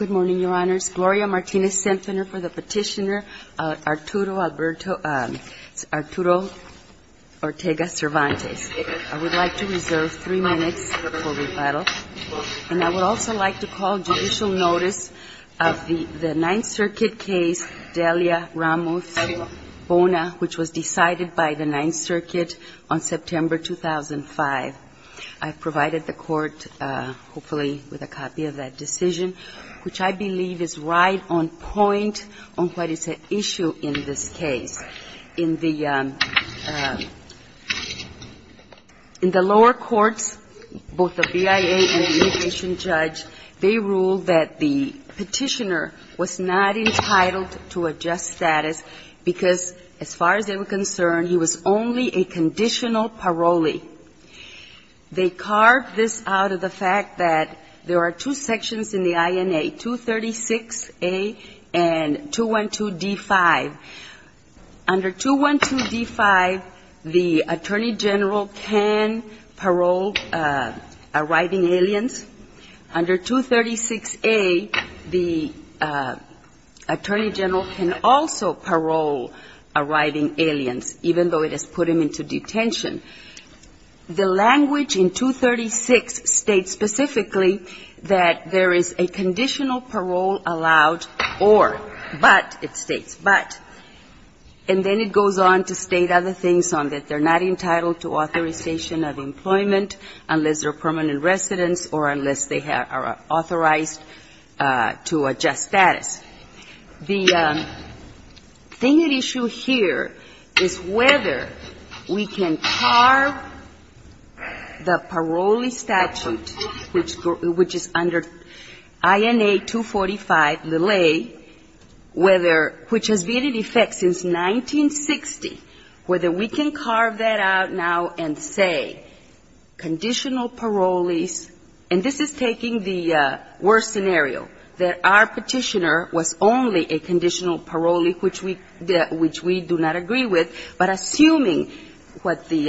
I would like to reserve three minutes for rebuttal. And I would also like to call judicial notice of the Ninth Circuit case Delia-Ramuth-Bona, which was decided by the Ninth Circuit on the basis of the Ninth Circuit decision, which I believe is right on point on what is the issue in this case. In the lower courts, both the BIA and the immigration judge, they ruled that the petitioner was not entitled to a just status because, as far as they were concerned, the petitioner was not entitled to a just status. And I would like to call judicial notice of the Ninth Circuit on the basis of the fact that there are two sections in the INA, 236A and 212D5. Under 212D5, the attorney general can parole arriving aliens. Under 236A, the attorney general can parole. And under 236B, the attorney general can parole, but it states specifically that there is a conditional parole allowed or, but it states but. And then it goes on to state other things on that they're not entitled to authorization of employment unless they're permanent residents or unless they are authorized to a just status. The thing at issue here is whether we can carve the parolee statute, which is under INA 245a, whether, which has been in effect since 1960, whether we can carve that out now and say conditional parole parolees, and this is taking the worst scenario, that our petitioner was only a conditional parolee, which we, which we do not agree with, but assuming what the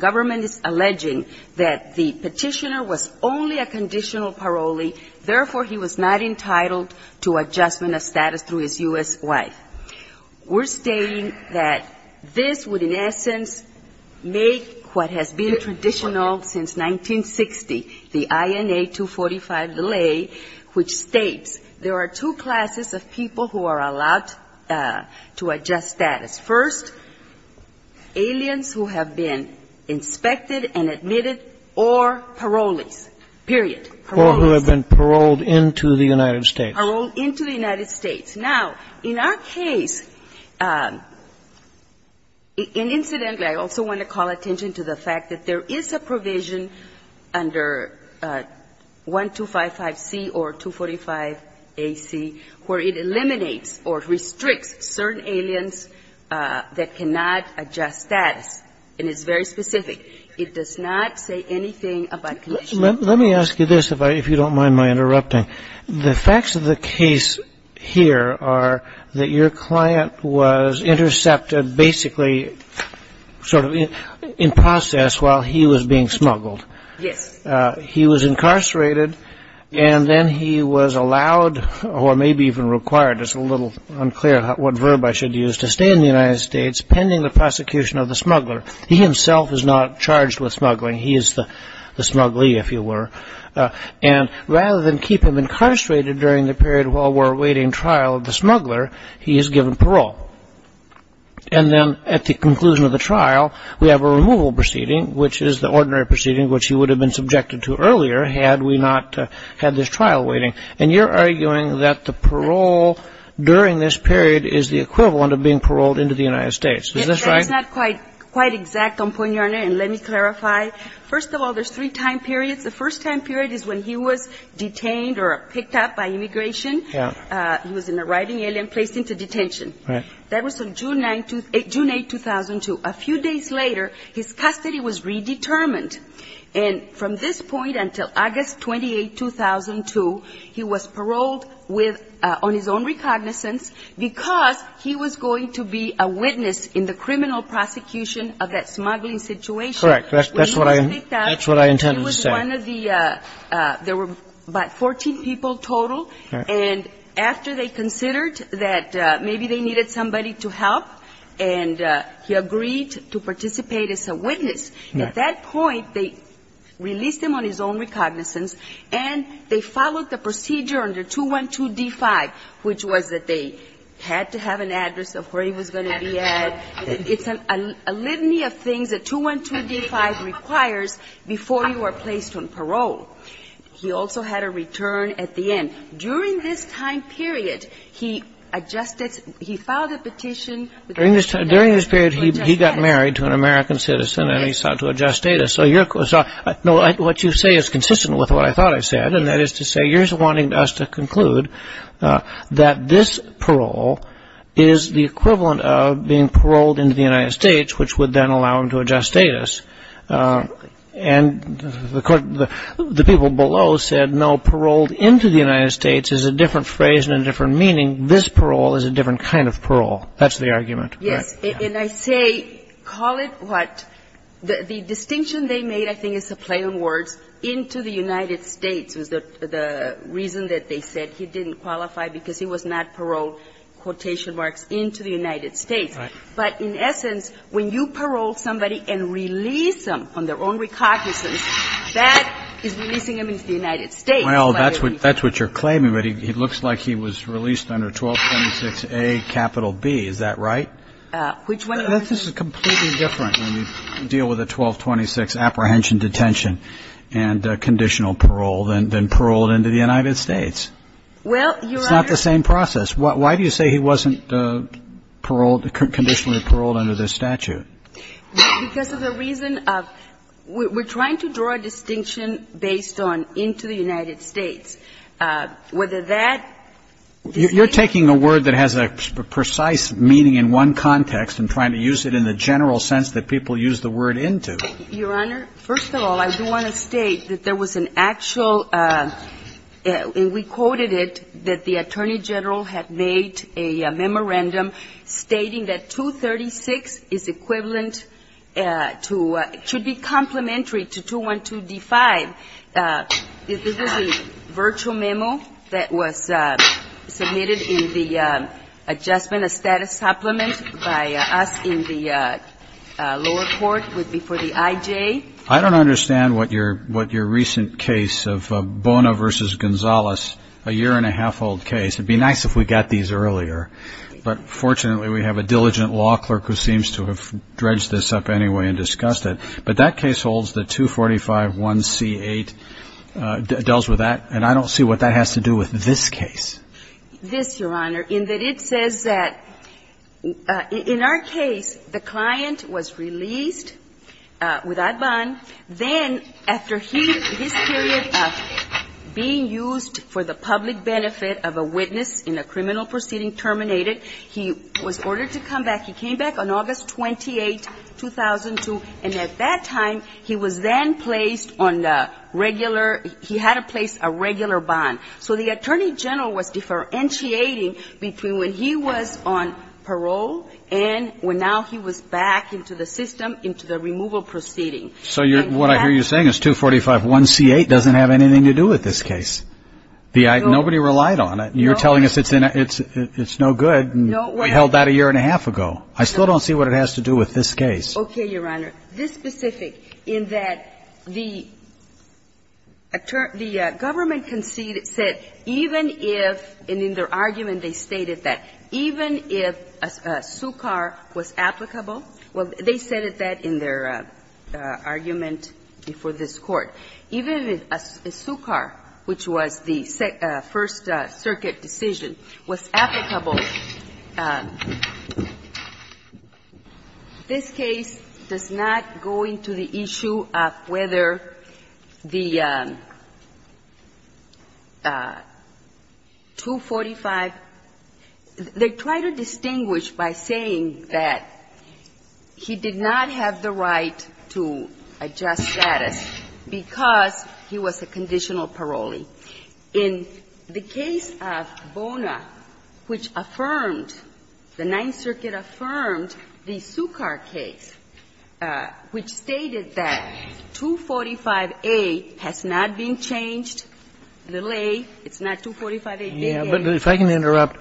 government is alleging, that the petitioner was only a conditional parolee, therefore, he was not entitled to adjustment of status through his U.S. wife. We're stating that this would, in essence, make what has been traditional since 1960, the INA 245a, which states there are two classes of people who are allowed to adjust status. First, aliens who have been inspected and admitted, or parolees, period, parolees. Or who have been paroled into the United States. Now, in our case, and incidentally, I also want to call attention to the fact that there is a provision under 1255c or 245ac where it eliminates or restricts certain aliens that cannot adjust status, and it's very specific. It does not say anything about conditional parolees. Let me ask you this, if you don't mind my interrupting. The facts of the case here are that your client was intercepted, basically, sort of in process while he was being smuggled. Yes. He was incarcerated, and then he was allowed, or maybe even required, it's a little unclear what verb I should use, to stay in the United States pending the prosecution of the smuggler. He himself is not charged with smuggling. He is the smuggly, if you were. And rather than keep him incarcerated during the period while we're awaiting trial of the smuggler, he is given parole. And then at the conclusion of the trial, we have a removal proceeding, which is the ordinary proceeding which he would have been subjected to earlier had we not had this trial waiting. And you're arguing that the parole during this period is the equivalent of being paroled into the United States. Is this right? It's not quite exact on point, Your Honor, and let me clarify. First of all, there's three time periods. The first time period is when he was detained or picked up by immigration. He was an arriving alien placed into detention. That was on June 8, 2002. A few days later, his custody was redetermined. And from this point until August 28, 2002, he was paroled on his own recognizance because he was going to be a witness in the criminal prosecution of that smuggling situation. Correct. That's what I intended to say. He was one of the, there were about 14 people total. And after they considered that maybe they needed somebody to help, and he agreed to participate as a witness. At that point, they released him on his own recognizance, and they followed the procedure under 212 D-5, which was that they had to have an address of where he was going to be at. It's a litany of things that 212 D-5 requires before you are placed on parole. He also had a return at the end. During this time period, he adjusted, he filed a petition. During this period, he got married to an American citizen, and he sought to adjust status. So what you say is consistent with what I thought I said. And that is to say, you're wanting us to conclude that this parole is the equivalent of being paroled into the United States, which would then allow him to adjust status. And the people below said, no, paroled into the United States is a different phrase and a different meaning. This parole is a different kind of parole. That's the argument. Yes. And I say, call it what, the distinction they made, I think, is a play on words, into the United States was the reason that they said he didn't qualify because he was not paroled, quotation marks, into the United States. Right. But in essence, when you parole somebody and release them on their own recognizance, that is releasing him into the United States. Well, that's what that's what you're claiming. But it looks like he was released under 1226A capital B. Is that right? Which one? This is completely different when you deal with a 1226 apprehension, detention and conditional parole than paroled into the United States. Well, it's not the same process. Why do you say he wasn't paroled, conditionally paroled under this statute? Because of the reason of we're trying to draw a distinction based on into the United States. Whether that's the same thing. You're taking a word that has a precise meaning in one context and trying to use it in the general sense that people use the word into. Your Honor, first of all, I do want to state that there was an actual, and we quoted that the attorney general had made a memorandum stating that 236 is equivalent to, should be complementary to 212D5. This is a virtual memo that was submitted in the adjustment of status supplement by us in the lower court before the I.J. I don't understand what your recent case of Bona v. Gonzalez, a year and a half old case. It would be nice if we got these earlier. But fortunately, we have a diligent law clerk who seems to have dredged this up anyway and discussed it. But that case holds the 245.1c8, deals with that, and I don't see what that has to do with this case. This, your Honor, in that it says that in our case, the client was released without bond. Then after his period of being used for the public benefit of a witness in a criminal proceeding terminated, he was ordered to come back. He came back on August 28, 2002, and at that time, he was then placed on the regular, he had to place a regular bond. So the attorney general was differentiating between when he was on parole and when now he was back into the system, into the removal proceeding. So you're – what I hear you saying is 245.1c8 doesn't have anything to do with this case. Nobody relied on it. You're telling us it's no good and we held that a year and a half ago. I still don't see what it has to do with this case. Okay, your Honor. This specific, in that the government conceded, said even if, and in their argument they stated that, even if a SUCAR was applicable, well, they said that in their argument before this Court, even if a SUCAR, which was the First Circuit decision, was applicable, this case does not go into the issue of whether the 245 – they try to distinguish by saying that he did not have the right to a just status because he was a conditional parolee. In the case of Bona, which affirmed, the Ninth Circuit affirmed the SUCAR case, which stated that 245a has not been changed, little a, it's not 245a, big a. But if I can interrupt,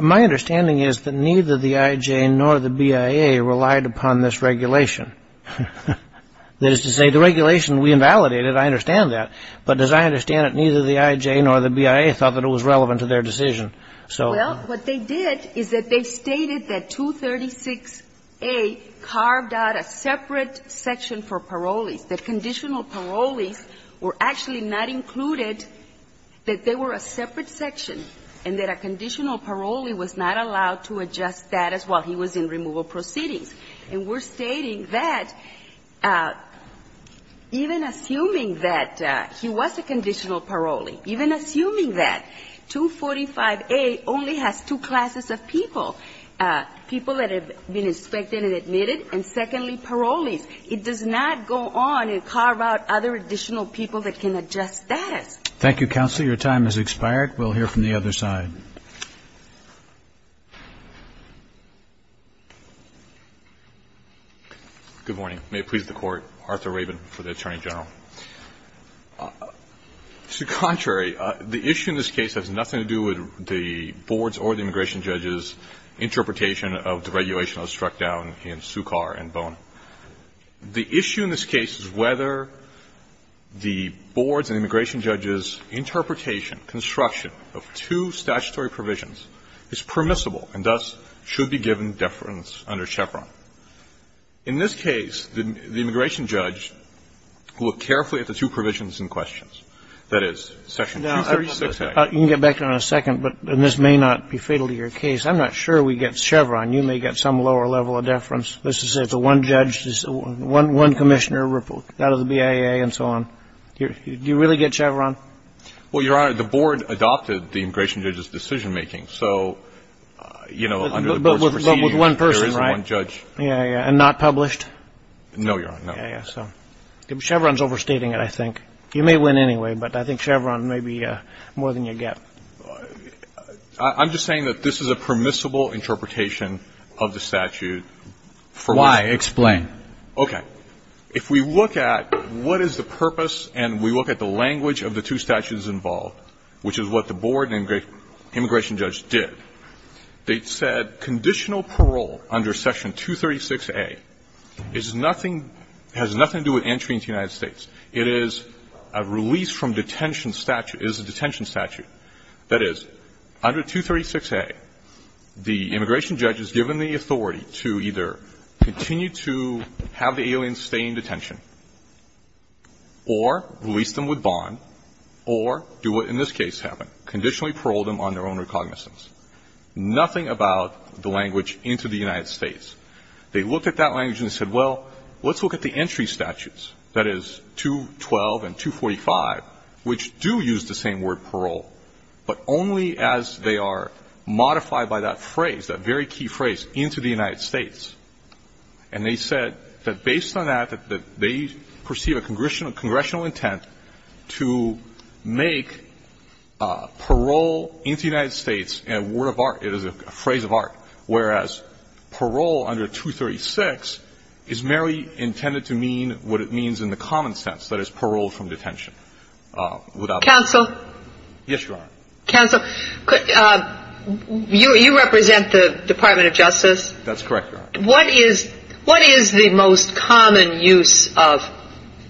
my understanding is that neither the I.J. nor the BIA relied upon this regulation. That is to say, the regulation we invalidated, I understand that, but as I understand it, neither the I.J. nor the BIA thought that it was relevant to their decision. So they did is that they stated that 236a carved out a separate section for parolees, that conditional parolees were actually not included, that they were a separate section, and that a conditional parolee was not allowed to adjust status while he was in removal proceedings. And we're stating that even assuming that he was a conditional parolee, even assuming that 245a only has two classes of people, people that have been inspected and admitted, and secondly, parolees, it does not go on and carve out other additional people that can adjust status. Thank you, counsel. Your time has expired. We'll hear from the other side. Good morning. May it please the Court. Arthur Rabin for the Attorney General. To the contrary, the issue in this case has nothing to do with the board's or the immigration judge's interpretation of the regulation that was struck down in Sukkar and Bone. The issue in this case is whether the board's and immigration judge's interpretation, construction of two statutory provisions is permissible and thus should be given deference under Chevron. In this case, the immigration judge looked carefully at the two provisions in question. That is, section 236a. You can get back to it in a second, but this may not be fatal to your case. I'm not sure we get Chevron. You may get some lower level of deference. Let's just say it's a one judge, one commissioner out of the BIA and so on. Do you really get Chevron? Well, Your Honor, the board adopted the immigration judge's decision-making. So, you know, under the board's proceedings, there is one judge. Yeah, yeah. And not published? No, Your Honor. No. Yeah, yeah. So, Chevron's overstating it, I think. You may win anyway, but I think Chevron may be more than you get. I'm just saying that this is a permissible interpretation of the statute. Why? Explain. Okay. If we look at what is the purpose and we look at the language of the two statutes involved, which is what the board and immigration judge did, they said conditional parole under Section 236A is nothing – has nothing to do with entry into the United States. It is a release from detention statute – is a detention statute. That is, under 236A, the immigration judge is given the authority to either continue to have the aliens stay in detention or release them with bond or do what in this case happened, conditionally parole them on their own recognizance. Nothing about the language into the United States. They looked at that language and said, well, let's look at the entry statutes, that is, 212 and 245, which do use the same word parole, but only as they are modified by that phrase, that very key phrase, into the United States. And they said that based on that, that they perceive a congressional intent to make parole into the United States a word of art, it is a phrase of art, whereas parole under 236 is merely intended to mean what it means in the common sense, that is, parole from detention. Counsel? Yes, Your Honor. Counsel? You represent the Department of Justice? That's correct, Your Honor. What is the most common use of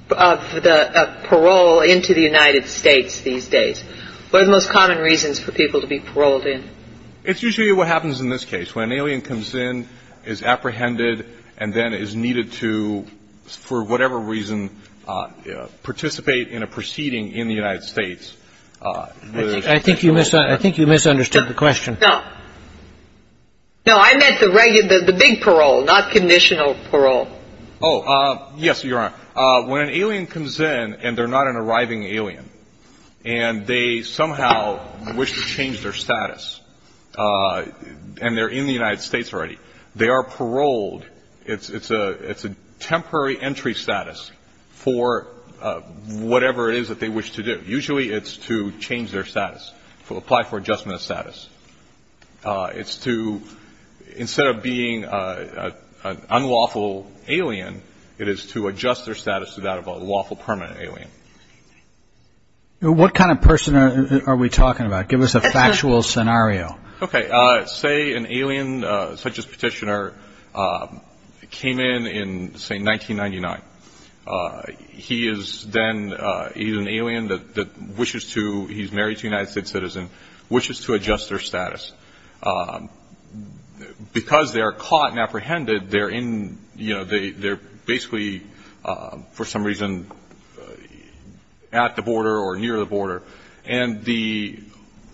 the parole into the United States these days? What are the most common reasons for people to be paroled in? It's usually what happens in this case. When an alien comes in, is apprehended, and then is needed to, for whatever reason, participate in a proceeding in the United States. I think you misunderstood the question. No. No, I meant the big parole, not conditional parole. Oh, yes, Your Honor. When an alien comes in, and they're not an arriving alien, and they somehow wish to change their status, and they're in the United States already, they are paroled. It's a temporary entry status for whatever it is that they wish to do. Usually it's to change their status, to apply for adjustment of status. It's to, instead of being an unlawful alien, it is to adjust their status to that of a lawful permanent alien. What kind of person are we talking about? Give us a factual scenario. Okay. Say an alien, such as Petitioner, came in in, say, 1999. He is then, he's an alien that wishes to, he's married to a United States citizen, wishes to adjust their status. Because they are caught and apprehended, they're in, you know, they're basically, for some reason, at the border or near the border, and the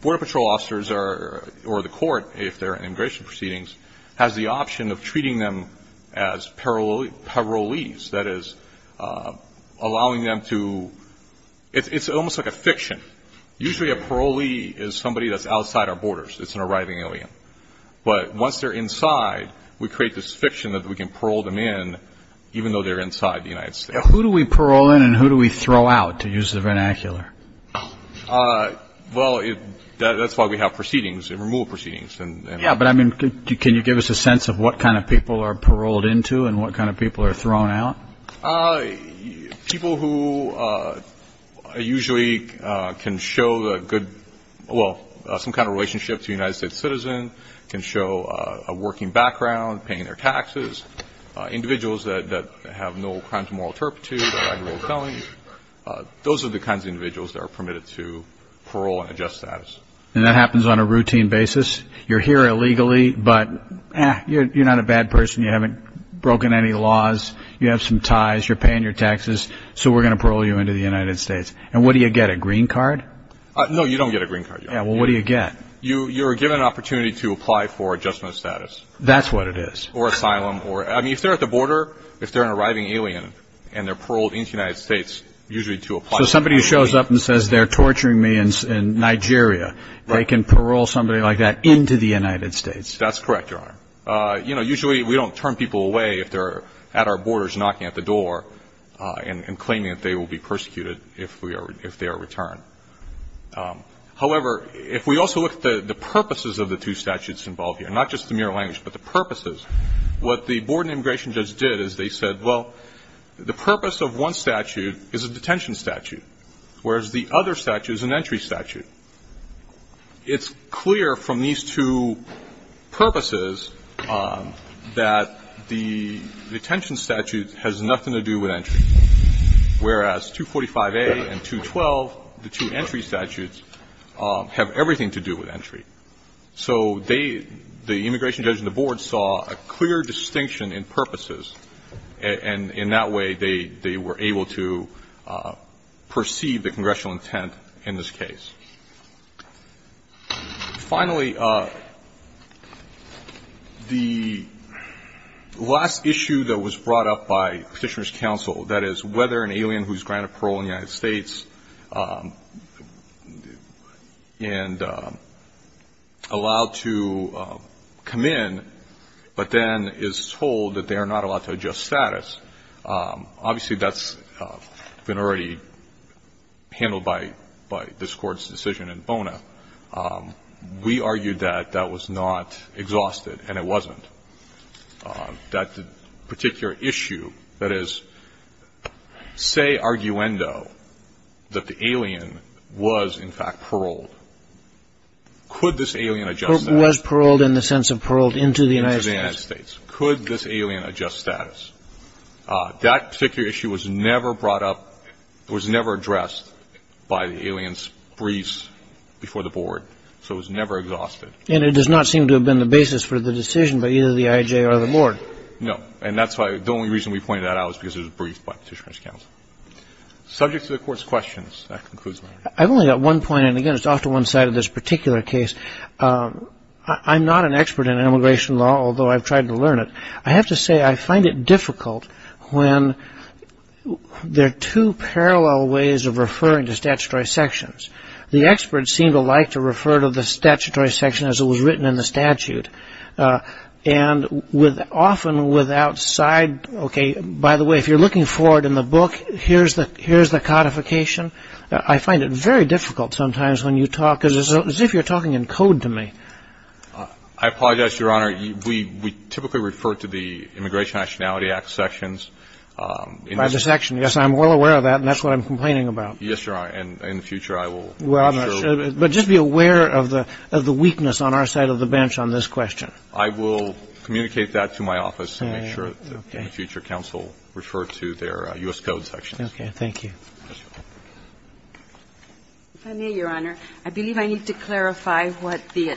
Border Patrol officers, or the court, if they're in immigration proceedings, has the option of treating them as parolees. That is, allowing them to, it's almost like a fiction. Usually a parolee is somebody that's outside our borders. It's an arriving alien. But once they're inside, we create this fiction that we can parole them in, even though they're inside the United States. Who do we parole in and who do we throw out, to use the vernacular? Well, that's why we have proceedings, removal proceedings. Yeah, but I mean, can you give us a sense of what kind of people are paroled into and what kind of people are thrown out? People who usually can show the good, well, some kind of relationship to a United States citizen, can show a working background, paying their taxes. Individuals that have no crimes of moral turpitude or illegal felonies. Those are the kinds of individuals that are permitted to parole and adjust status. And that happens on a routine basis? You're here illegally, but you're not a bad person. You haven't broken any laws. You have some ties. You're paying your taxes. So we're going to parole you into the United States. And what do you get? A green card? No, you don't get a green card. Yeah. Well, what do you get? You're given an opportunity to apply for adjustment of status. That's what it is. Or asylum. Or, I mean, if they're at the border, if they're an arriving alien and they're paroled into the United States, usually to apply. So somebody who shows up and says, they're torturing me in Nigeria, they can parole somebody like that into the United States. That's correct, Your Honor. You know, usually we don't turn people away if they're at our borders knocking at the door and claiming that they will be persecuted if they are returned. However, if we also look at the purposes of the two statutes involved here, not just the mere language, but the purposes, what the Board of Immigration judges did is they said, well, the purpose of one statute is a detention statute, whereas the other statute is an entry statute. And it's clear from these two purposes that the detention statute has nothing to do with entry, whereas 245A and 212, the two entry statutes, have everything to do with entry. So the immigration judge and the board saw a clear distinction in purposes, and in that way, they were able to perceive the congressional intent in this case. Finally, the last issue that was brought up by Petitioner's counsel, that is whether an alien who's granted parole in the United States and allowed to come in, but then is told that they are not allowed to adjust status, obviously that's been already handled by this Court's decision in Bona. We argued that that was not exhausted, and it wasn't. That particular issue, that is, say, arguendo, that the alien was in fact paroled. Could this alien adjust status? Kagan was paroled in the sense of paroled into the United States. Could this alien adjust status? That particular issue was never brought up, was never addressed by the alien's briefs before the board, so it was never exhausted. And it does not seem to have been the basis for the decision by either the I.I.J. or the board. No. And that's why the only reason we pointed that out is because it was briefed by Petitioner's counsel. Subject to the Court's questions, that concludes my argument. I've only got one point, and again, it's off to one side of this particular case. I'm not an expert in immigration law, although I've tried to learn it. I have to say I find it difficult when there are two parallel ways of referring to statutory sections. The experts seem to like to refer to the statutory section as it was written in the statute. And often without side, OK, by the way, if you're looking forward in the book, here's the codification. I find it very difficult sometimes when you talk, because it's as if you're talking in code to me. I apologize, Your Honor. We typically refer to the Immigration Nationality Act sections. By the section. Yes, I'm well aware of that, and that's what I'm complaining about. Yes, Your Honor. And in the future, I will make sure of it. Well, I'm not sure, but just be aware of the weakness on our side of the bench on this question. I will communicate that to my office and make sure that in the future counsel refer to their U.S. Code sections. OK. Thank you. If I may, Your Honor, I believe I need to clarify what the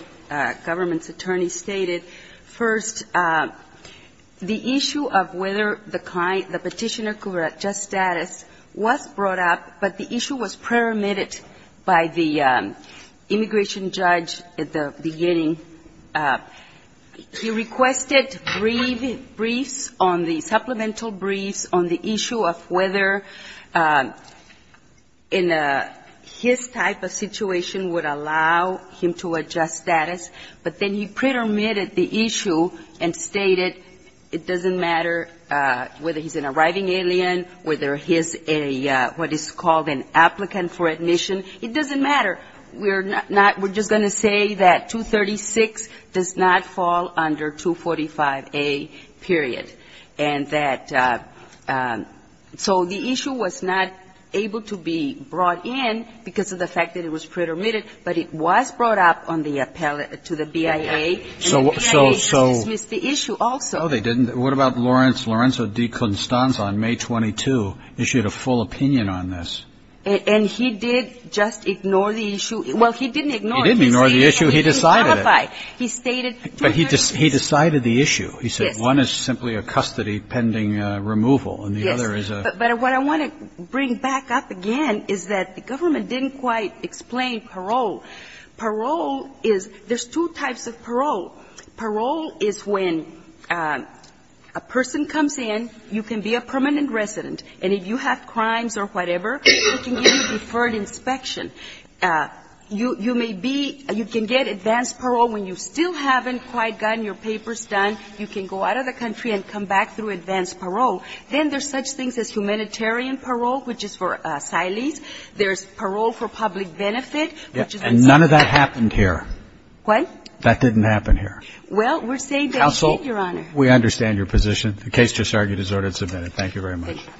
government's attorney stated. First, the issue of whether the petitioner could adjust status was brought up, but the issue was pre-remitted by the immigration judge at the beginning. He requested briefs on the supplemental briefs on the issue of whether in his type of situation would allow him to adjust status, but then he pre-remitted the issue and stated it doesn't matter whether he's an arriving alien, whether he's a what is called an applicant for admission, it doesn't matter. We're just going to say that 236 does not fall under 245A, period. And that so the issue was not able to be brought in because of the fact that it was pre-remitted, but it was brought up on the appellate to the BIA, and the BIA dismissed the issue also. No, they didn't. What about Lorenzo DeConstanza on May 22 issued a full opinion on this? And he did just ignore the issue. Well, he didn't ignore it. He didn't ignore the issue. He decided it. He stated 236. But he decided the issue. He said one is simply a custody pending removal and the other is a. But what I want to bring back up again is that the government didn't quite explain parole. Parole is, there's two types of parole. Parole is when a person comes in, you can be a permanent resident, and if you have a permit, you can get a deferred inspection. You may be, you can get advanced parole when you still haven't quite gotten your papers done. You can go out of the country and come back through advanced parole. Then there's such things as humanitarian parole, which is for asylees. There's parole for public benefit, which is for asylum seekers. And none of that happened here. What? That didn't happen here. Well, we're saying that here, Your Honor. Counsel, we understand your position. The case just argued is ordered and submitted. Thank you very much. Thank you.